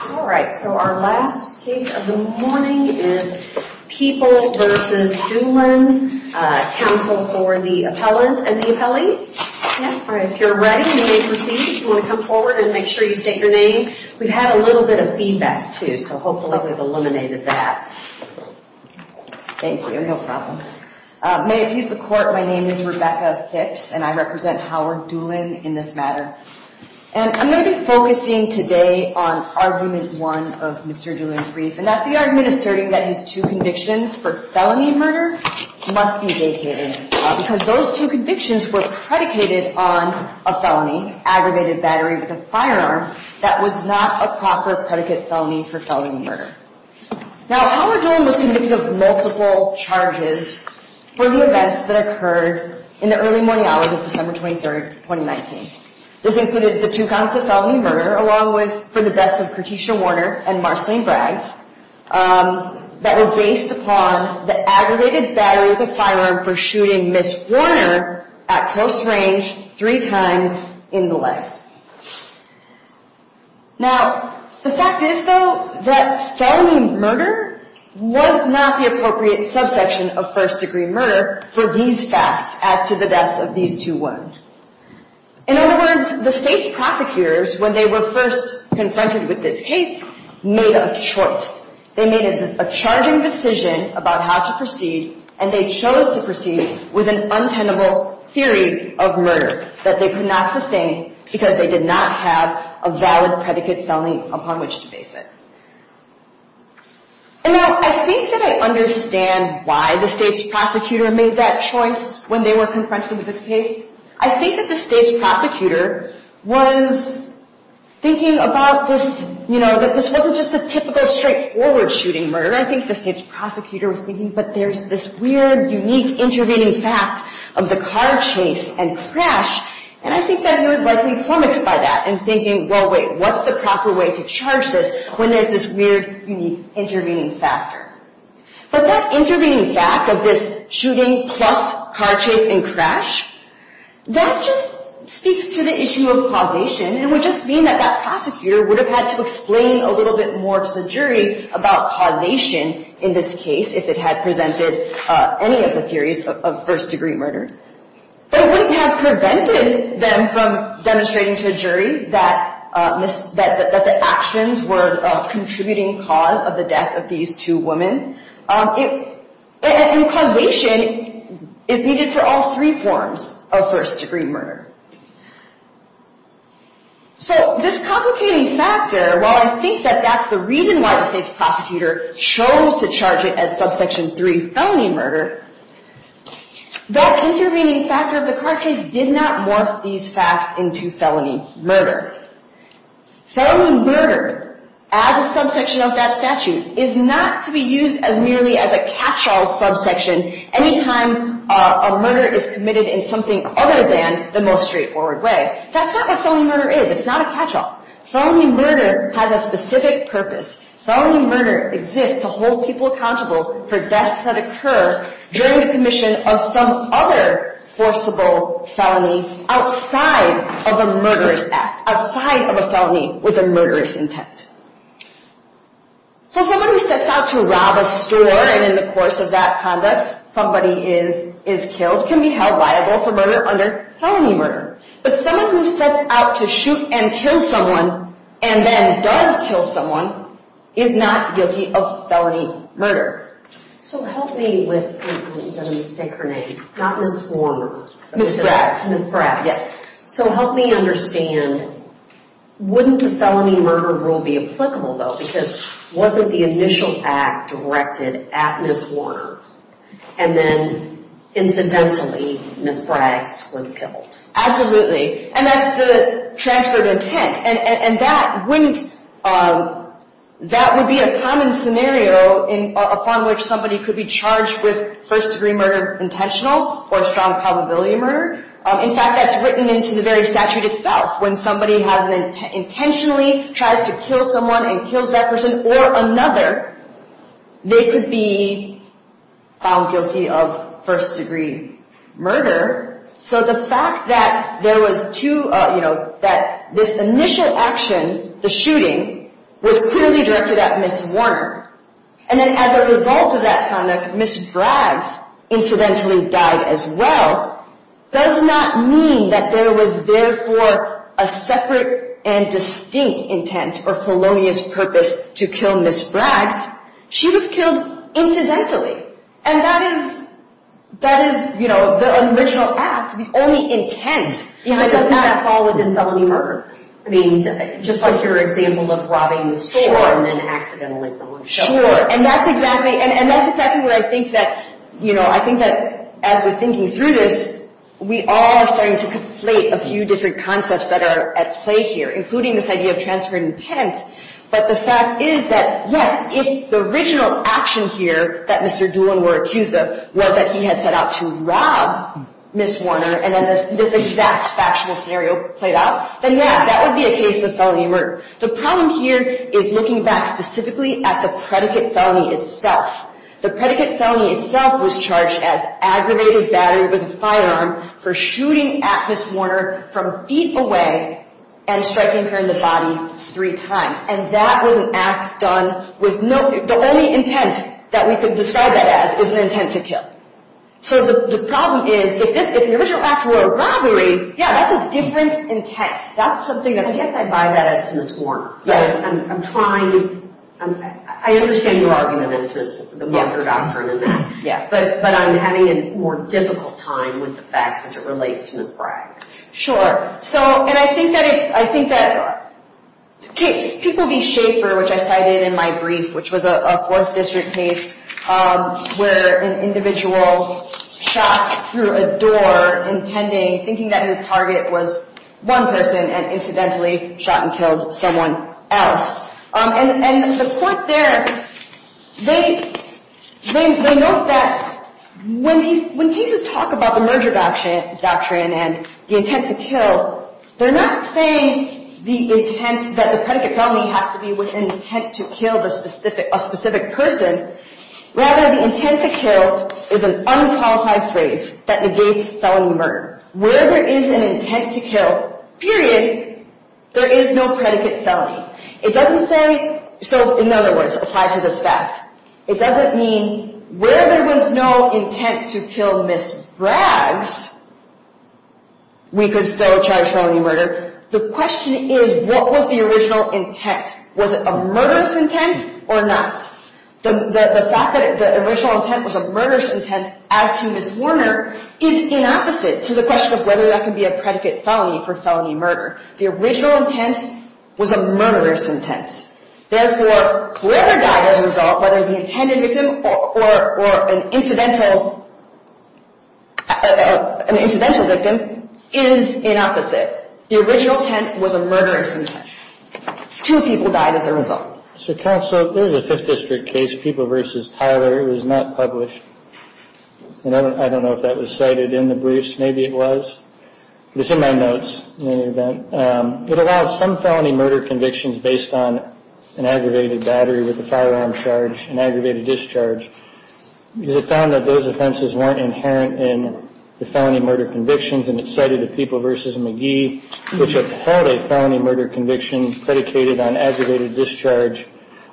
Alright, so our last case of the morning is People v. Doolin, counsel for the appellant and the appellee. If you're ready, you may proceed. If you want to come forward and make sure you state your name. We've had a little bit of feedback too, so hopefully we've eliminated that. Thank you, no problem. May it please the court, my name is Rebecca Phipps and I represent Howard Doolin in this matter. And I'm going to be focusing today on argument one of Mr. Doolin's brief. And that's the argument asserting that his two convictions for felony murder must be vacated. Because those two convictions were predicated on a felony, aggravated battery with a firearm, that was not a proper predicate felony for felony murder. Now Howard Doolin was convicted of multiple charges for the events that occurred in the early morning hours of December 23rd, 2019. This included the two counts of felony murder, along with for the deaths of Kertisha Warner and Marceline Braggs, that were based upon the aggravated battery with a firearm for shooting Ms. Warner at close range three times in the legs. Now the fact is though that felony murder was not the appropriate subsection of first degree murder for these facts as to the deaths of these two women. In other words, the state's prosecutors, when they were first confronted with this case, made a choice. They made a charging decision about how to proceed and they chose to proceed with an untenable theory of murder that they could not sustain because they did not have a valid predicate felony upon which to base it. And now I think that I understand why the state's prosecutor made that choice when they were confronted with this case. I think that the state's prosecutor was thinking about this, you know, that this wasn't just a typical straightforward shooting murder. I think the state's prosecutor was thinking, but there's this weird, unique, intervening fact of the car chase and crash. And I think that he was likely flummoxed by that and thinking, well, wait, what's the proper way to charge this when there's this weird, unique, intervening factor? But that intervening fact of this shooting plus car chase and crash, that just speaks to the issue of causation and would just mean that that prosecutor would have had to explain a little bit more to the jury about causation in this case if it had presented any of the theories of first degree murder. But it wouldn't have prevented them from demonstrating to a jury that the actions were a contributing cause of the death of these two women. And causation is needed for all three forms of first degree murder. So this complicating factor, while I think that that's the reason why the state's prosecutor chose to charge it as subsection 3 felony murder, that intervening factor of the car chase did not morph these facts into felony murder. Felony murder, as a subsection of that statute, is not to be used as merely as a catch-all subsection any time a murder is committed in something other than the most straightforward way. That's not what felony murder is. It's not a catch-all. Felony murder has a specific purpose. Felony murder exists to hold people accountable for deaths that occur during the commission of some other forcible felony outside of a murderous act, outside of a felony with a murderous intent. So somebody who sets out to rob a store and in the course of that conduct somebody is killed can be held liable for murder under felony murder. But someone who sets out to shoot and kill someone and then does kill someone is not guilty of felony murder. So help me with, I'm going to mistake her name, not Ms. Warner. Ms. Braggs. Yes. So help me understand, wouldn't the felony murder rule be applicable though because wasn't the initial act directed at Ms. Warner and then incidentally Ms. Braggs was killed? Absolutely. And that's the transfer of intent. And that wouldn't, that would be a common scenario upon which somebody could be charged with first-degree murder intentional or strong probability murder. In fact, that's written into the very statute itself. When somebody intentionally tries to kill someone and kills that person or another, they could be found guilty of first-degree murder. So the fact that there was two, you know, that this initial action, the shooting, was clearly directed at Ms. Warner. And then as a result of that conduct, Ms. Braggs incidentally died as well. Does not mean that there was therefore a separate and distinct intent or felonious purpose to kill Ms. Braggs. She was killed incidentally. And that is, that is, you know, the original act, the only intent. It does not fall within felony murder. I mean, just like your example of robbing the store and then accidentally someone showed up. Sure. And that's exactly, and that's exactly what I think that, you know, I think that as we're thinking through this, we all are starting to conflate a few different concepts that are at play here, including this idea of transfer of intent. But the fact is that, yes, if the original action here that Mr. Doolin were accused of was that he had set out to rob Ms. Warner and then this exact factual scenario played out, then yeah, that would be a case of felony murder. The problem here is looking back specifically at the predicate felony itself. The predicate felony itself was charged as aggravated battery with a firearm for shooting at Ms. Warner from feet away and striking her in the body three times. And that was an act done with no, the only intent that we could describe that as is an intent to kill. So the problem is if this, if the original act were a robbery, yeah, that's a different intent. That's something that, I guess I buy that as to Ms. Warner. But I'm trying, I understand your argument as to the murder doctrine and that. Yeah. But I'm having a more difficult time with the facts as it relates to Ms. Braggs. Sure. So, and I think that it's, I think that people be Schaefer, which I cited in my brief, which was a fourth district case where an individual shot through a door intending, thinking that his target was one person and incidentally shot and killed someone else. And the court there, they note that when cases talk about the merger doctrine and the intent to kill, they're not saying the intent that the predicate felony has to be with an intent to kill a specific person. Rather, the intent to kill is an unqualified phrase that negates felony murder. Where there is an intent to kill, period, there is no predicate felony. It doesn't say, so in other words, apply to this fact. It doesn't mean where there was no intent to kill Ms. Braggs, we could still charge felony murder. The question is, what was the original intent? Was it a murderous intent or not? The fact that the original intent was a murderous intent, as to Ms. Warner, is inopposite to the question of whether that could be a predicate felony for felony murder. The original intent was a murderous intent. Therefore, whoever died as a result, whether the intended victim or an incidental victim, is inopposite. The original intent was a murderous intent. Two people died as a result. So, counsel, there's a Fifth District case, People v. Tyler. It was not published. I don't know if that was cited in the briefs. Maybe it was. It's in my notes, in any event. It allows some felony murder convictions based on an aggravated battery with a firearm charge, an aggravated discharge. Because it found that those offenses weren't inherent in the felony murder convictions, and it cited the People v. McGee, which have held a felony murder conviction predicated on aggravated discharge,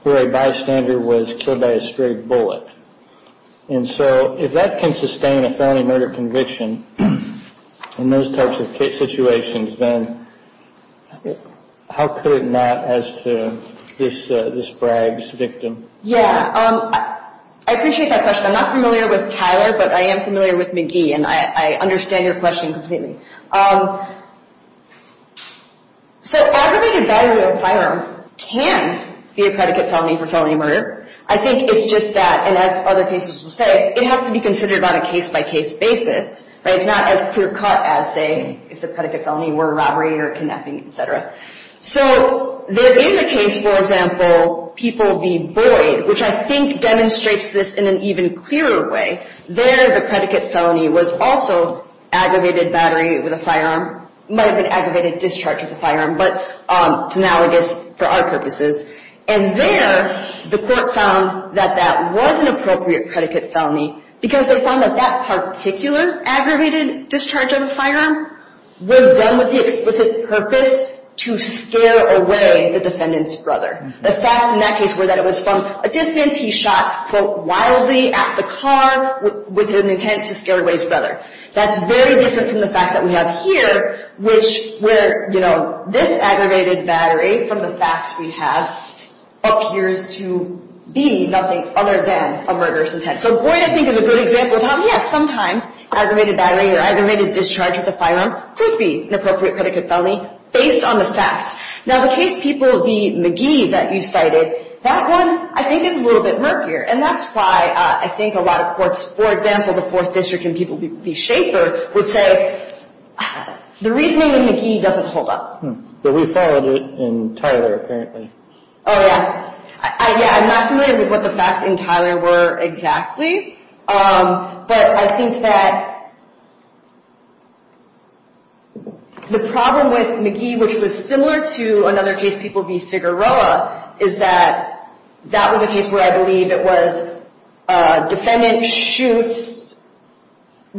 where a bystander was killed by a stray bullet. And so, if that can sustain a felony murder conviction in those types of situations, then how could it not as to this bribes victim? Yeah. I appreciate that question. I'm not familiar with Tyler, but I am familiar with McGee. And I understand your question completely. So, aggravated battery with a firearm can be a predicate felony for felony murder. I think it's just that, and as other cases will say, it has to be considered on a case-by-case basis. It's not as clear cut as, say, if the predicate felony were robbery or kidnapping, et cetera. So, there is a case, for example, People v. Boyd, which I think demonstrates this in an even clearer way. There, the predicate felony was also aggravated battery with a firearm. It might have been aggravated discharge with a firearm, but it's analogous for our purposes. And there, the court found that that was an appropriate predicate felony because they found that that particular aggravated discharge of a firearm was done with the explicit purpose to scare away the defendant's brother. The facts in that case were that it was from a distance. He shot, quote, wildly at the car with an intent to scare away his brother. That's very different from the facts that we have here, which were, you know, this aggravated battery from the facts we have appears to be nothing other than a murderous intent. So, Boyd, I think, is a good example of how, yes, sometimes aggravated battery or aggravated discharge with a firearm could be an appropriate predicate felony based on the facts. Now, the case people v. McGee that you cited, that one, I think, is a little bit murkier. And that's why I think a lot of courts, for example, the Fourth District and people v. Shaffer, would say the reasoning in McGee doesn't hold up. But we followed it in Tyler, apparently. Oh, yeah. Yeah, I'm not familiar with what the facts in Tyler were exactly. But I think that the problem with McGee, which was similar to another case, people v. Figueroa, is that that was a case where I believe it was a defendant shoots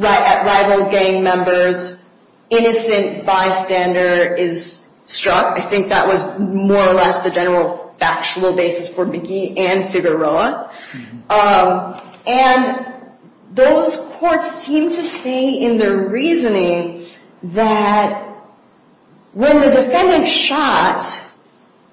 at rival gang members. Innocent bystander is struck. I think that was more or less the general factual basis for McGee and Figueroa. And those courts seem to say in their reasoning that when the defendant shot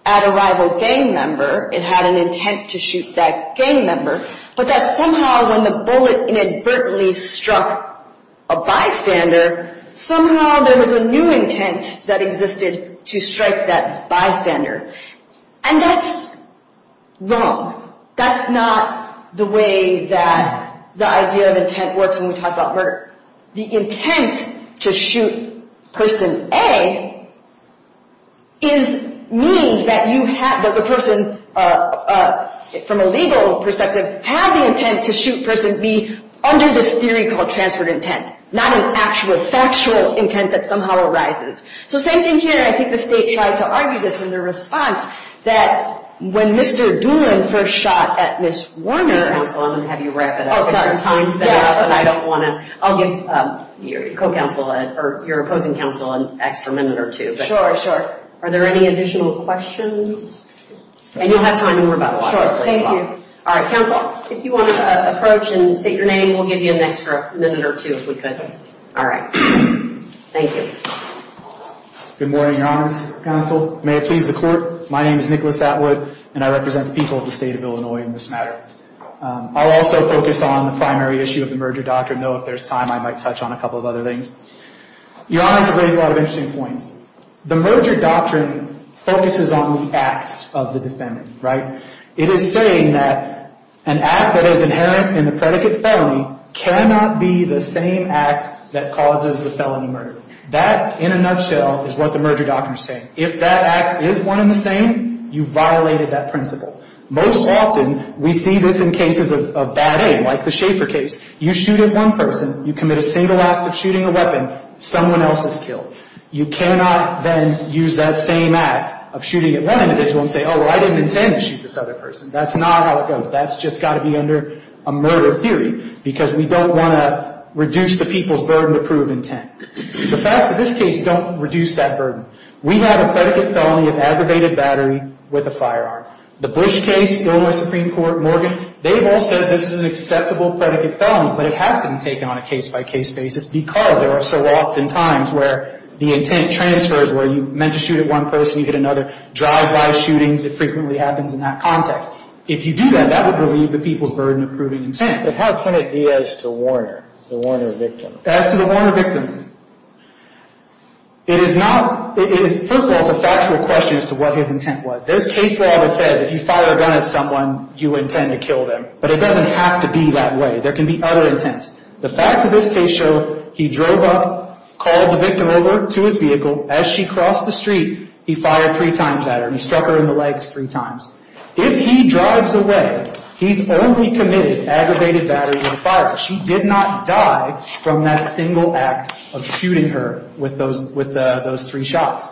at a rival gang member, it had an intent to shoot that gang member, but that somehow when the bullet inadvertently struck a bystander, somehow there was a new intent that existed to strike that bystander. And that's wrong. That's not the way that the idea of intent works when we talk about murder. The intent to shoot person A means that the person from a legal perspective had the intent to shoot person B under this theory called transferred intent, not an actual factual intent that somehow arises. So same thing here, and I think the state tried to argue this in their response, that when Mr. Doolin first shot at Ms. Warner. Counsel, I'm going to have you wrap it up. Oh, sorry. I don't want to. I'll give your opposing counsel an extra minute or two. Sure, sure. Are there any additional questions? And you'll have time to worry about a lot of this later on. Sure, thank you. All right, counsel, if you want to approach and state your name, we'll give you an extra minute or two if we could. Okay. All right. Thank you. Good morning, Your Honors, counsel. May it please the Court, my name is Nicholas Atwood, and I represent the people of the state of Illinois in this matter. I'll also focus on the primary issue of the merger doctrine, though if there's time I might touch on a couple of other things. Your Honors have raised a lot of interesting points. The merger doctrine focuses on the acts of the defendant, right? It is saying that an act that is inherent in the predicate felony cannot be the same act that causes the felony murder. That, in a nutshell, is what the merger doctrine is saying. If that act is one and the same, you violated that principle. Most often we see this in cases of bad aim, like the Schaefer case. You shoot at one person, you commit a single act of shooting a weapon, someone else is killed. You cannot then use that same act of shooting at one individual and say, oh, well, I didn't intend to shoot this other person. That's not how it goes. That's just got to be under a murder theory, because we don't want to reduce the people's burden to prove intent. The facts of this case don't reduce that burden. We have a predicate felony of aggravated battery with a firearm. The Bush case, Illinois Supreme Court, Morgan, they've all said this is an acceptable predicate felony, but it has been taken on a case-by-case basis because there are so often times where the intent transfers, where you meant to shoot at one person, you get another. Drive-by shootings, it frequently happens in that context. If you do that, that would relieve the people's burden of proving intent. But how can it be as to Warner, the Warner victim? As to the Warner victim, it is not – first of all, it's a factual question as to what his intent was. There's case law that says if you fire a gun at someone, you intend to kill them, but it doesn't have to be that way. There can be other intents. The facts of this case show he drove up, called the victim over to his vehicle. As she crossed the street, he fired three times at her and he struck her in the legs three times. If he drives away, he's only committed aggravated battery and firing. She did not die from that single act of shooting her with those three shots.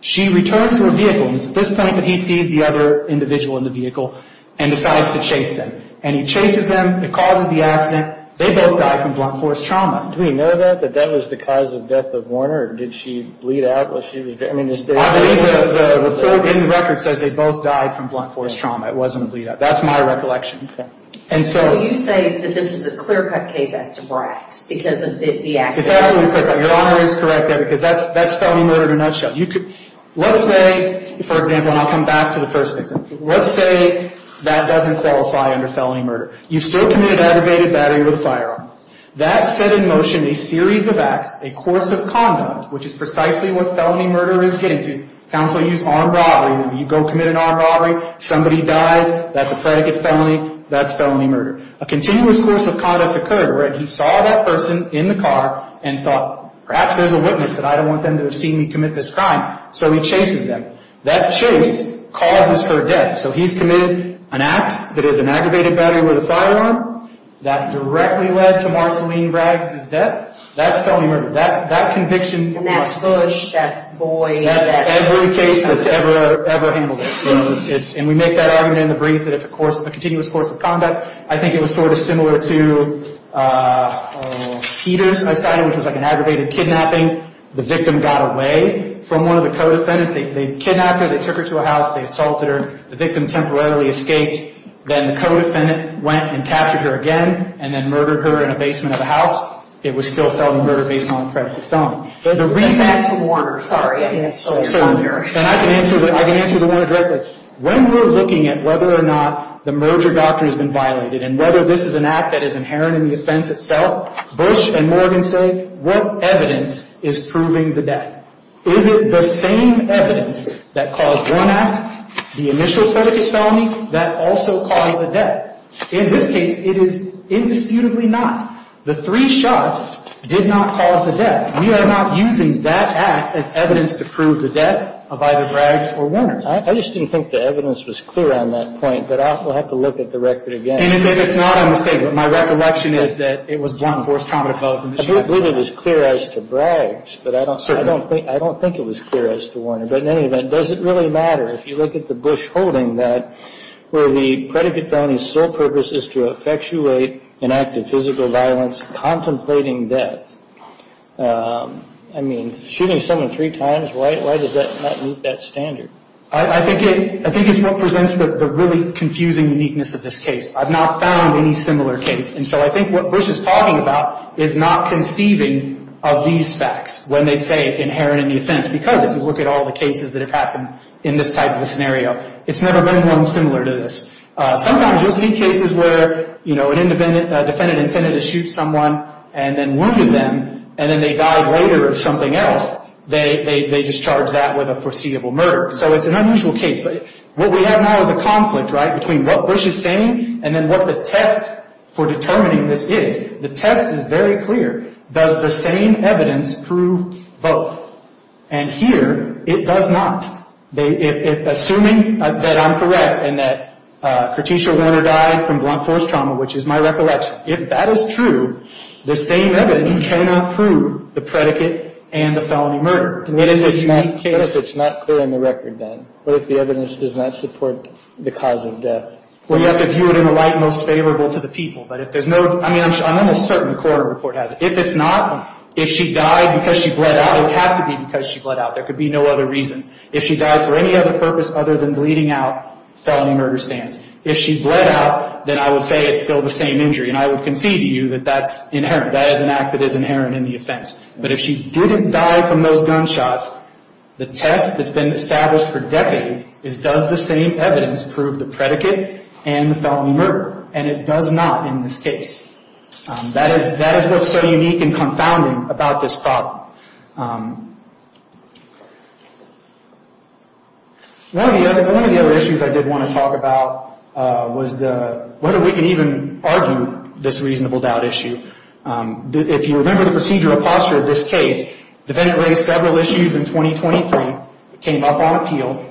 She returns to her vehicle. It's at this point that he sees the other individual in the vehicle and decides to chase them, and he chases them. It causes the accident. They both die from blunt force trauma. Do we know that, that that was the cause of death of Warner, or did she bleed out while she was – I believe that the record says they both died from blunt force trauma. It wasn't a bleed out. That's my recollection. And so – So you say that this is a clear-cut case as to Brax because of the accident? It's absolutely clear-cut. Your Honor is correct there because that's felony murder in a nutshell. Let's say, for example, and I'll come back to the first victim. Let's say that doesn't qualify under felony murder. You still committed aggravated battery with a firearm. That set in motion a series of acts, a course of conduct, which is precisely what felony murder is getting to. Counsel use armed robbery. You go commit an armed robbery. Somebody dies. That's a predicate felony. That's felony murder. A continuous course of conduct occurred where he saw that person in the car and thought, perhaps there's a witness, and I don't want them to have seen me commit this crime. So he chases them. That chase causes her death. So he's committed an act that is an aggravated battery with a firearm that directly led to Marceline Brax's death. That's felony murder. That conviction. And that's Bush. That's Boyd. That's every case that's ever handled it. And we make that argument in the brief that it's a continuous course of conduct. I think it was sort of similar to Peter's case, which was like an aggravated kidnapping. The victim got away from one of the co-defendants. They kidnapped her. They took her to a house. They assaulted her. The victim temporarily escaped. Then the co-defendant went and captured her again and then murdered her in a basement of a house. It was still felony murder based on a predicate felony. But the reason... That's an act of order. I can answer the order directly. When we're looking at whether or not the merger doctrine has been violated and whether this is an act that is inherent in the offense itself, Bush and Morgan say, what evidence is proving the death? Is it the same evidence that caused one act, the initial predicate felony, that also caused the death? In this case, it is indisputably not. The three shots did not cause the death. We are not using that act as evidence to prove the death of either Braggs or Warner. I just didn't think the evidence was clear on that point, but I'll have to look at the record again. And I think it's not a mistake, but my recollection is that it was blunt force trauma to both of them. I do believe it was clear as to Braggs, but I don't... Certainly. I don't think it was clear as to Warner. But in any event, does it really matter? If you look at the Bush holding that, where the predicate felony's sole purpose is to effectuate an act of physical violence, contemplating death, I mean, shooting someone three times, why does that not meet that standard? I think it's what presents the really confusing uniqueness of this case. I've not found any similar case. And so I think what Bush is talking about is not conceiving of these facts when they say inherent in the offense because if you look at all the cases that have happened in this type of scenario, it's never been one similar to this. Sometimes you'll see cases where, you know, a defendant intended to shoot someone and then wounded them, and then they died later of something else. They discharge that with a foreseeable murder. So it's an unusual case. But what we have now is a conflict, right, between what Bush is saying and then what the test for determining this is. The test is very clear. Does the same evidence prove both? And here, it does not. Assuming that I'm correct and that Kertesha Warner died from blunt force trauma, which is my recollection, if that is true, the same evidence cannot prove the predicate and the felony murder. It is a unique case. What if it's not clear on the record, then? What if the evidence does not support the cause of death? Well, you have to view it in a light most favorable to the people. I'm almost certain the court report has it. If it's not, if she died because she bled out, it would have to be because she bled out. There could be no other reason. If she died for any other purpose other than bleeding out, felony murder stands. If she bled out, then I would say it's still the same injury, and I would concede to you that that's inherent. That is an act that is inherent in the offense. But if she didn't die from those gunshots, the test that's been established for decades is, does the same evidence prove the predicate and the felony murder? And it does not in this case. That is what's so unique and confounding about this problem. One of the other issues I did want to talk about was the, whether we can even argue this reasonable doubt issue. If you remember the procedural posture of this case, the defendant raised several issues in 2023. It came up on appeal.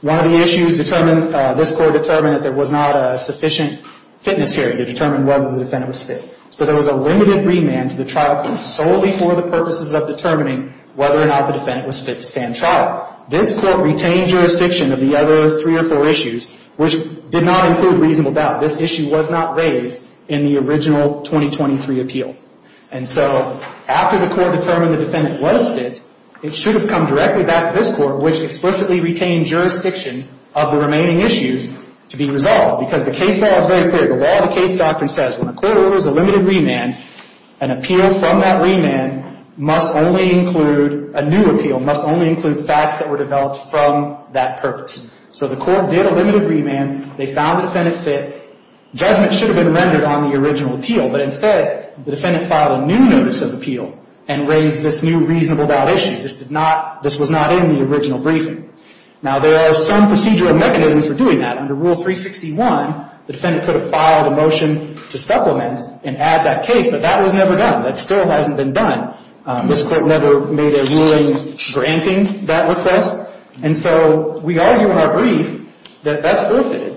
One of the issues determined, this court determined that there was not a sufficient fitness here to determine whether the defendant was fit. So there was a limited remand to the trial court solely for the purposes of determining whether or not the defendant was fit to stand trial. This court retained jurisdiction of the other three or four issues, which did not include reasonable doubt. This issue was not raised in the original 2023 appeal. And so after the court determined the defendant was fit, it should have come directly back to this court, which explicitly retained jurisdiction of the remaining issues, to be resolved. Because the case law is very clear. The law of the case doctrine says when a court orders a limited remand, an appeal from that remand must only include, a new appeal must only include facts that were developed from that purpose. So the court did a limited remand. They found the defendant fit. Judgment should have been rendered on the original appeal, but instead the defendant filed a new notice of appeal and raised this new reasonable doubt issue. This did not, this was not in the original briefing. Now there are some procedural mechanisms for doing that. Under Rule 361, the defendant could have filed a motion to supplement and add that case, but that was never done. That still hasn't been done. This court never made a ruling granting that request. And so we argue in our brief that that's forfeited.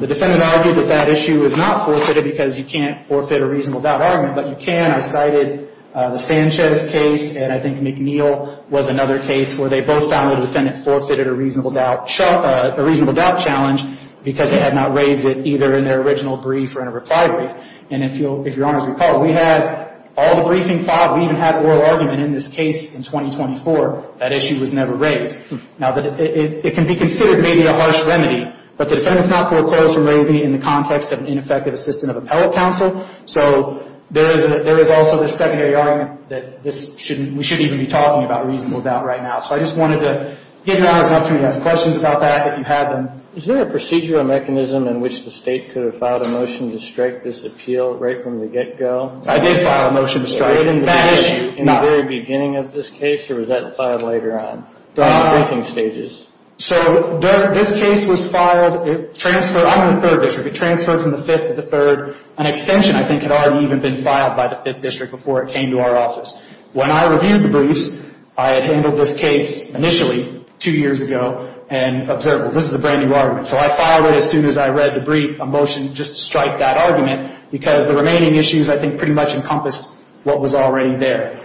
The defendant argued that that issue is not forfeited because you can't forfeit a reasonable doubt argument, but you can. I cited the Sanchez case and I think McNeil was another case where they both found the defendant forfeited a reasonable doubt challenge because they had not raised it either in their original brief or in a reply brief. And if Your Honors recall, we had all the briefing filed. We even had oral argument in this case in 2024. That issue was never raised. Now it can be considered maybe a harsh remedy, but the defendant's not foreclosed from raising it in the context of an ineffective assistant of appellate counsel. So there is also this secondary argument that this shouldn't, we shouldn't even be talking about reasonable doubt right now. So I just wanted to give Your Honors an opportunity to ask questions about that. If you have them. Is there a procedural mechanism in which the State could have filed a motion to strike this appeal right from the get-go? I did file a motion to strike that issue. In the very beginning of this case or was that filed later on in the briefing stages? So this case was filed, it transferred, I'm in the third district, it transferred from the fifth to the third, an extension I think had already even been filed by the fifth district before it came to our office. When I reviewed the briefs, I had handled this case initially two years ago and observable, this is a brand-new argument. So I filed it as soon as I read the brief, a motion just to strike that argument because the remaining issues I think pretty much encompassed what was already there.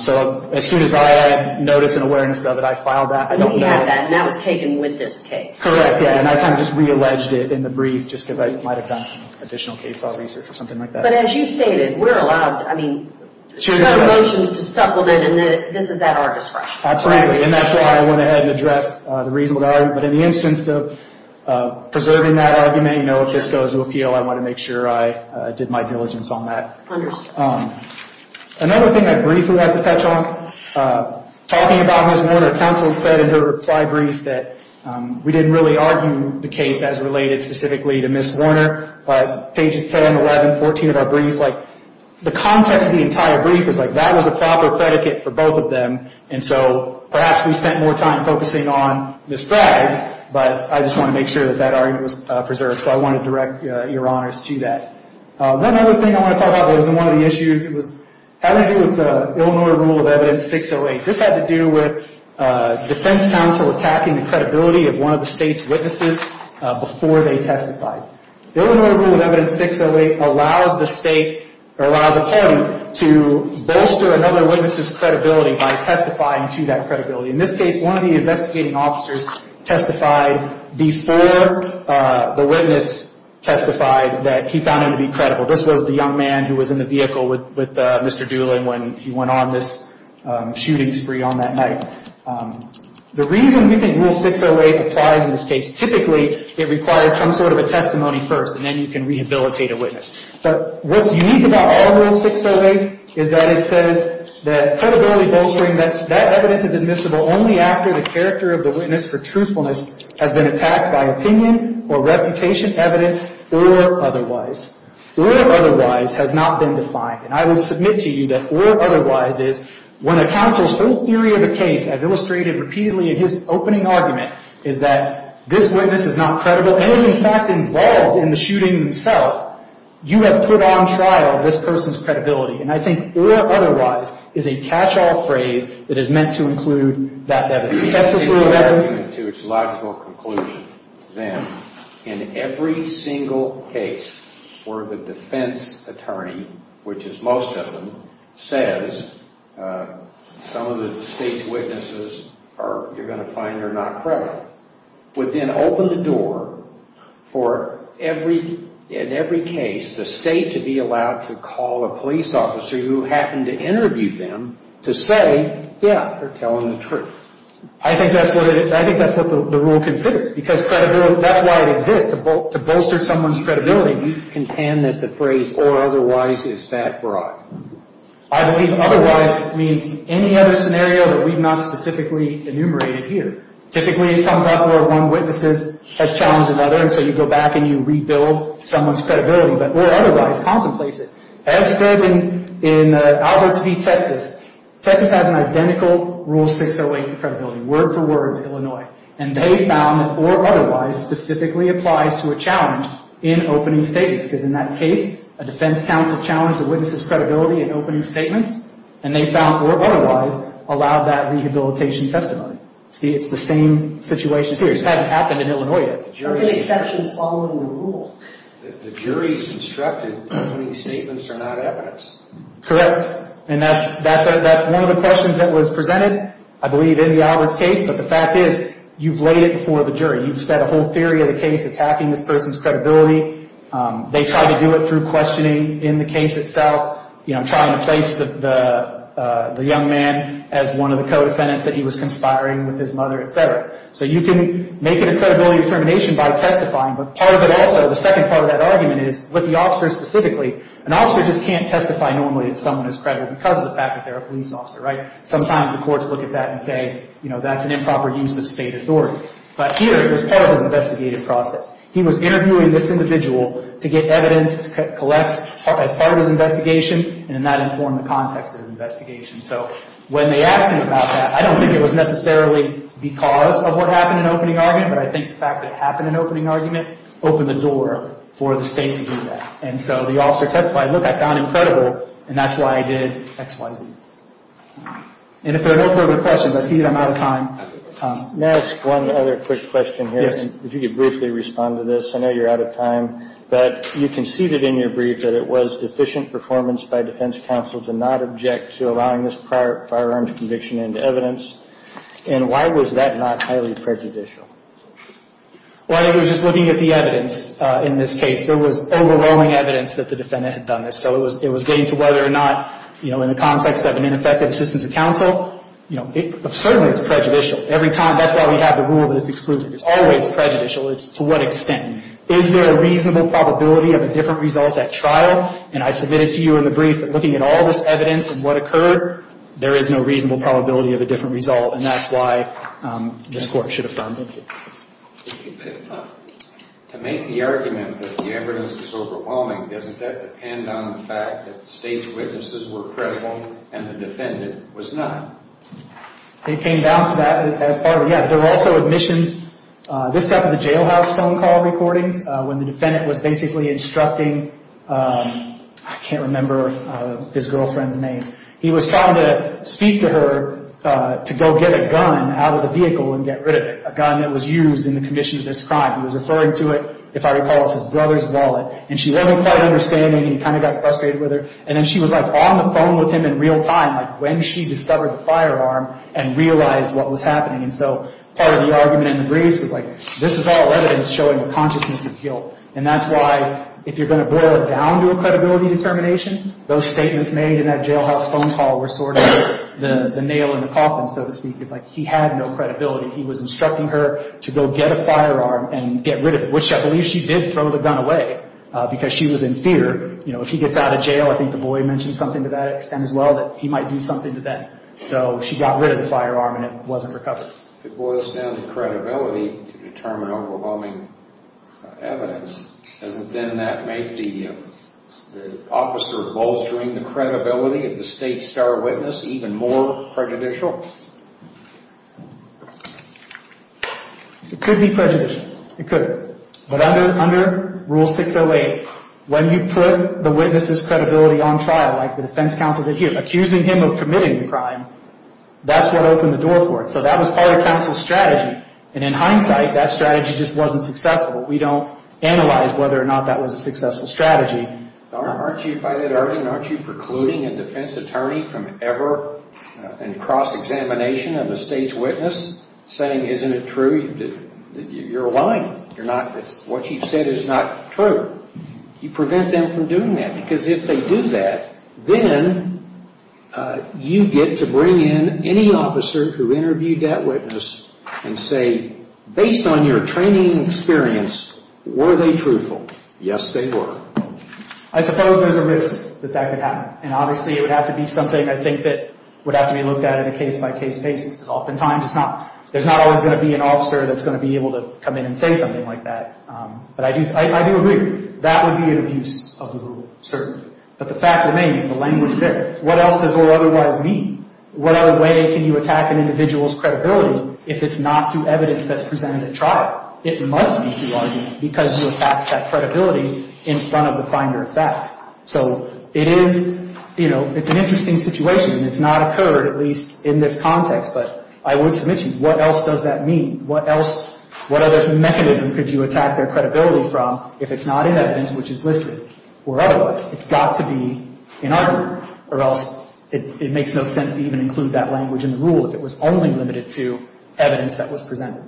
So as soon as I had notice and awareness of it, I filed that. We had that and that was taken with this case. Correct, yeah, and I kind of just realleged it in the brief just because I might have done additional case law research or something like that. But as you stated, we're allowed, I mean, motions to supplement and this is at our discretion. Absolutely, and that's why I went ahead and addressed the reasonable argument. But in the instance of preserving that argument, you know, if this goes to appeal, I want to make sure I did my diligence on that. Understood. Another thing, that brief we had to touch on, talking about Ms. Warner, counsel said in her reply brief that we didn't really argue the case as related specifically to Ms. Warner, but pages 10, 11, 14 of our brief, like the context of the entire brief is like that was a proper predicate for both of them and so perhaps we spent more time focusing on Ms. Bragg's, but I just want to make sure that that argument was preserved, so I want to direct your honors to that. One other thing I want to talk about that wasn't one of the issues, it was having to do with the Illinois Rule of Evidence 608. This had to do with defense counsel attacking the credibility of one of the state's witnesses before they testified. The Illinois Rule of Evidence 608 allows the state or allows a claimant to bolster another witness' credibility by testifying to that credibility. In this case, one of the investigating officers testified before the witness testified that he found him to be credible. This was the young man who was in the vehicle with Mr. Doolin when he went on this shooting spree on that night. The reason we think Rule 608 applies in this case, typically it requires some sort of a testimony first and then you can rehabilitate a witness. But what's unique about our Rule 608 is that it says that credibility bolstering, that evidence is admissible only after the character of the witness for truthfulness has been attacked by opinion or reputation evidence or otherwise. Or otherwise has not been defined. And I would submit to you that or otherwise is when a counsel's full theory of a case, as illustrated repeatedly in his opening argument, is that this witness is not credible and is in fact involved in the shooting himself, you have put on trial this person's credibility. And I think or otherwise is a catch-all phrase that is meant to include that evidence. That's a rule of evidence. To its logical conclusion, then, in every single case where the defense attorney, which is most of them, says some of the state's witnesses you're going to find are not credible, would then open the door for, in every case, the state to be allowed to call a police officer who happened to interview them to say, yeah, they're telling the truth. I think that's what the Rule considers because that's why it exists, to bolster someone's credibility. We contend that the phrase or otherwise is that broad. I believe otherwise means any other scenario that we've not specifically enumerated here. Typically, it comes up where one witness has challenged another, and so you go back and you rebuild someone's credibility. But or otherwise, contemplate it. As said in Alberts v. Texas, Texas has an identical Rule 608 for credibility, word for word, Illinois. And they found that or otherwise specifically applies to a challenge in opening statements. Because in that case, a defense counsel challenged the witness's credibility in opening statements, and they found or otherwise allowed that rehabilitation testimony. See, it's the same situation here. This hasn't happened in Illinois yet. There have been exceptions following the Rule. The jury's instructed that opening statements are not evidence. Correct. And that's one of the questions that was presented, I believe, in the Alberts case. But the fact is you've laid it before the jury. You've set a whole theory of the case attacking this person's credibility. They try to do it through questioning in the case itself. You know, I'm trying to place the young man as one of the co-defendants that he was conspiring with his mother, et cetera. So you can make it a credibility determination by testifying, but part of it also, the second part of that argument is with the officer specifically, an officer just can't testify normally that someone is credible because of the fact that they're a police officer, right? Sometimes the courts look at that and say, you know, that's an improper use of state authority. But here, it was part of his investigative process. He was interviewing this individual to get evidence, collect as part of his investigation, and that informed the context of his investigation. So when they asked him about that, I don't think it was necessarily because of what happened in opening argument, but I think the fact that it happened in opening argument opened the door for the state to do that. And so the officer testified, look, I found him credible, and that's why I did X, Y, Z. And if there are no further questions, I see that I'm out of time. May I ask one other quick question here? If you could briefly respond to this. I know you're out of time, but you conceded in your brief that it was deficient performance by defense counsel to not object to allowing this prior firearms conviction into evidence. And why was that not highly prejudicial? Well, I think it was just looking at the evidence in this case. There was overwhelming evidence that the defendant had done this. So it was getting to whether or not, you know, in the context of an ineffective assistance of counsel, you know, certainly it's prejudicial. Every time, that's why we have the rule that it's excluded. It's always prejudicial. It's to what extent. Is there a reasonable probability of a different result at trial? And I submitted to you in the brief that looking at all this evidence and what occurred, there is no reasonable probability of a different result, and that's why this Court should affirm. Thank you. To make the argument that the evidence was overwhelming, doesn't that depend on the fact that the state's witnesses were credible and the defendant was not? It came down to that. There were also admissions. This happened at the jailhouse phone call recordings when the defendant was basically instructing, I can't remember his girlfriend's name. He was trying to speak to her to go get a gun out of the vehicle and get rid of it, a gun that was used in the commission of this crime. He was referring to it, if I recall, as his brother's wallet. And she wasn't quite understanding and kind of got frustrated with her. And then she was, like, on the phone with him in real time, like, when she discovered the firearm and realized what was happening. And so part of the argument in the briefs was, like, this is all evidence showing a consciousness of guilt. And that's why if you're going to boil it down to a credibility determination, those statements made in that jailhouse phone call were sort of the nail in the coffin, so to speak. It's like he had no credibility. He was instructing her to go get a firearm and get rid of it, which I believe she did throw the gun away because she was in fear. You know, if he gets out of jail, I think DuBois mentioned something to that extent as well, that he might do something to them. So she got rid of the firearm and it wasn't recovered. If it boils down to credibility to determine overwhelming evidence, doesn't then that make the officer bolstering the credibility of the state star witness even more prejudicial? It could be prejudicial. It could. But under Rule 608, when you put the witness's credibility on trial, like the defense counsel did here, accusing him of committing the crime, that's what opened the door for it. So that was part of counsel's strategy. And in hindsight, that strategy just wasn't successful. We don't analyze whether or not that was a successful strategy. By that argument, aren't you precluding a defense attorney from ever in cross-examination of a state's witness, saying, isn't it true? You're lying. What you've said is not true. You prevent them from doing that because if they do that, then you get to bring in any officer who interviewed that witness and say, based on your training and experience, were they truthful? Yes, they were. I suppose there's a risk that that could happen, and obviously it would have to be something I think that would have to be looked at in a case-by-case basis because oftentimes there's not always going to be an officer that's going to be able to come in and say something like that. But I do agree. That would be an abuse of the rule, certainly. But the fact remains the language there. What else does it otherwise mean? What other way can you attack an individual's credibility if it's not through evidence that's presented at trial? It must be through argument because you attacked that credibility in front of the finder of fact. So it is, you know, it's an interesting situation. It's not occurred, at least in this context, but I would submit to you, what else does that mean? What other mechanism could you attack their credibility from if it's not in evidence, which is listed? It's got to be in argument or else it makes no sense to even include that language in the rule if it was only limited to evidence that was presented.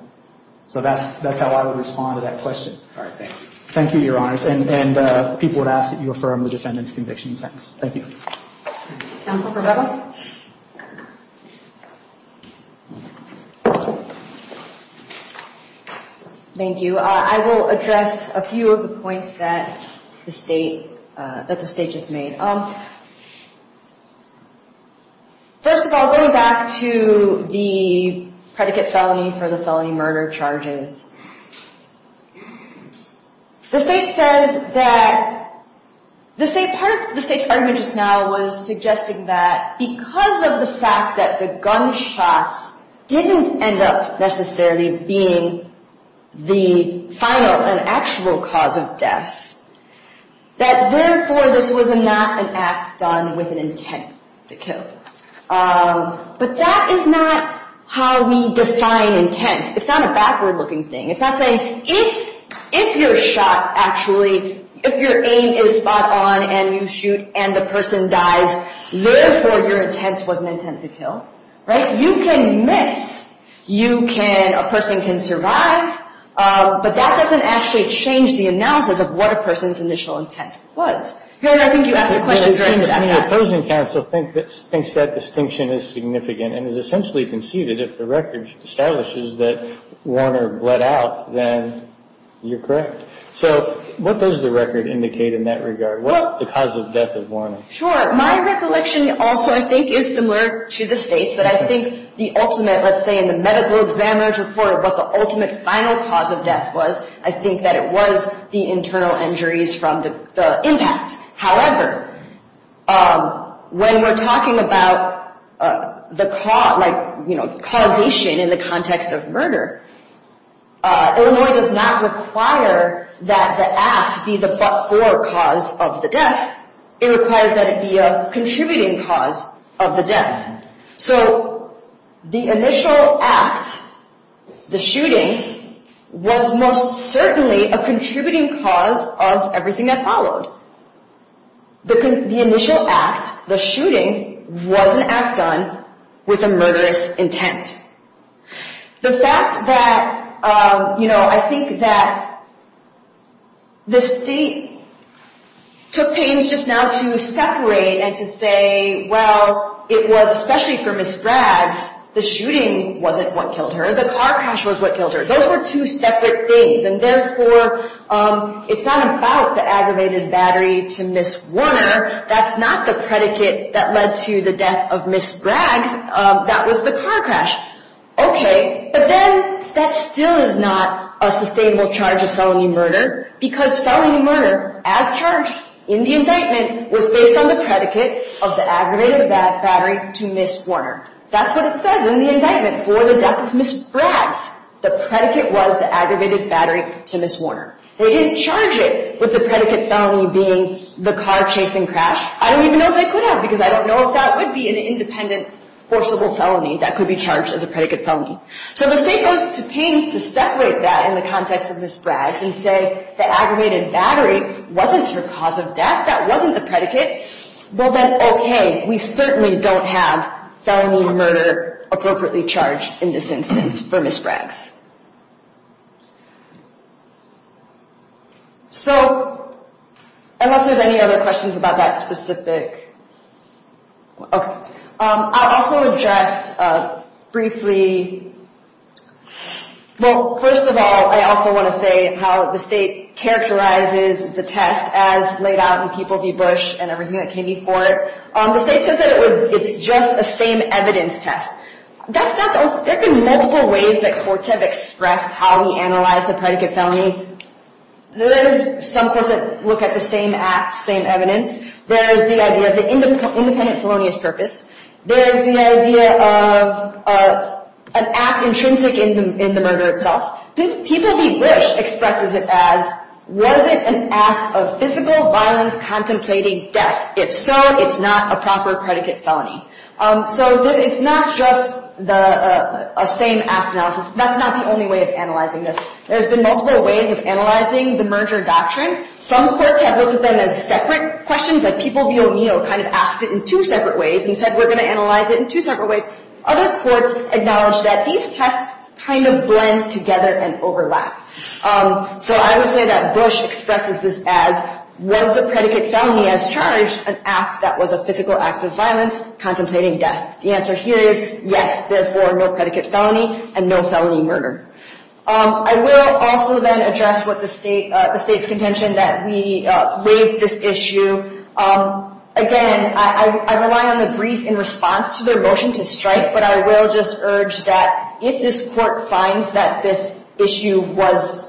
So that's how I would respond to that question. All right. Thank you. Thank you, Your Honors. And people would ask that you affirm the defendant's conviction in seconds. Thank you. Counsel Provello? Thank you. I will address a few of the points that the State just made. First of all, going back to the predicate felony for the felony murder charges, the State says that the State's argument just now was suggesting that because of the fact that the gunshots didn't end up necessarily being the final and actual cause of death, that therefore this was not an act done with an intent to kill. But that is not how we define intent. It's not a backward-looking thing. It's not saying if you're shot actually, if your aim is spot on and you shoot and the person dies, therefore your intent was an intent to kill. Right? You can miss. You can – a person can survive. But that doesn't actually change the analysis of what a person's initial intent was. Here, I think you asked a question directed at that. The opposing counsel thinks that distinction is significant and has essentially conceded if the record establishes that Warner bled out, then you're correct. So what does the record indicate in that regard? What's the cause of death of Warner? Sure. My recollection also, I think, is similar to the State's, that I think the ultimate, let's say in the medical examiner's report, what the ultimate final cause of death was, I think that it was the internal injuries from the impact. However, when we're talking about the causation in the context of murder, Illinois does not require that the act be the but-for cause of the death. It requires that it be a contributing cause of the death. So the initial act, the shooting, was most certainly a contributing cause of everything that followed. The initial act, the shooting, was an act done with a murderous intent. The fact that, you know, I think that the State took pains just now to separate and to say, well, it was especially for Ms. Braggs, the shooting wasn't what killed her. The car crash was what killed her. Those were two separate things, and therefore, it's not about the aggravated battery to Ms. Warner. That's not the predicate that led to the death of Ms. Braggs. That was the car crash. Okay, but then that still is not a sustainable charge of felony murder, because felony murder, as charged in the indictment, was based on the predicate of the aggravated battery to Ms. Warner. That's what it says in the indictment. For the death of Ms. Braggs, the predicate was the aggravated battery to Ms. Warner. They didn't charge it with the predicate felony being the car chasing crash. I don't even know if they could have, because I don't know if that would be an independent forcible felony that could be charged as a predicate felony. So the State goes to pains to separate that in the context of Ms. Braggs and say the aggravated battery wasn't her cause of death, that wasn't the predicate. Well, then, okay, we certainly don't have felony murder appropriately charged in this instance for Ms. Braggs. So, unless there's any other questions about that specific, okay. I'll also address briefly, well, first of all, I also want to say how the State characterizes the test as laid out in People v. Bush and everything that came before it. The State says that it's just the same evidence test. There have been multiple ways that courts have expressed how we analyze the predicate felony. There's some courts that look at the same act, same evidence. There's the idea of the independent felonious purpose. There's the idea of an act intrinsic in the murder itself. People v. Bush expresses it as, was it an act of physical violence contemplating death? If so, it's not a proper predicate felony. So, it's not just a same act analysis. That's not the only way of analyzing this. There's been multiple ways of analyzing the merger doctrine. Some courts have looked at them as separate questions that People v. O'Neill kind of asked it in two separate ways and said we're going to analyze it in two separate ways. Other courts acknowledge that these tests kind of blend together and overlap. So, I would say that Bush expresses this as, was the predicate felony as charged an act that was a physical act of violence contemplating death. The answer here is yes, therefore, no predicate felony and no felony murder. I will also then address what the state's contention that we waived this issue. Again, I rely on the brief in response to their motion to strike, but I will just urge that if this court finds that this issue was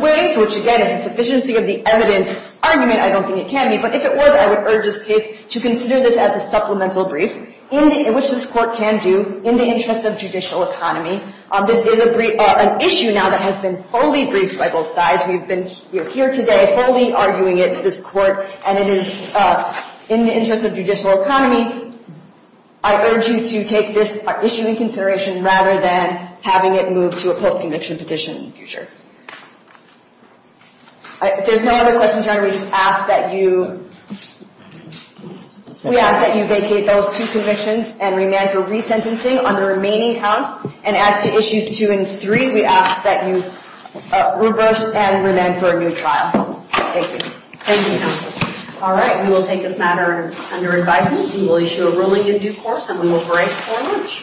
waived, which again is a sufficiency of the evidence argument, I don't think it can be, but if it was, I would urge this case to consider this as a supplemental brief, which this court can do in the interest of judicial economy. This is an issue now that has been fully briefed by both sides. We are here today fully arguing it to this court, and it is in the interest of judicial economy. I urge you to take this issue in consideration rather than having it move to a post-conviction petition in the future. If there's no other questions, Your Honor, we just ask that you vacate those two convictions and remand for resentencing on the remaining counts. And as to issues two and three, we ask that you reverse and remand for a new trial. Thank you. Thank you, Counsel. All right, we will take this matter under advisement. We will issue a ruling in due course, and we will break for lunch.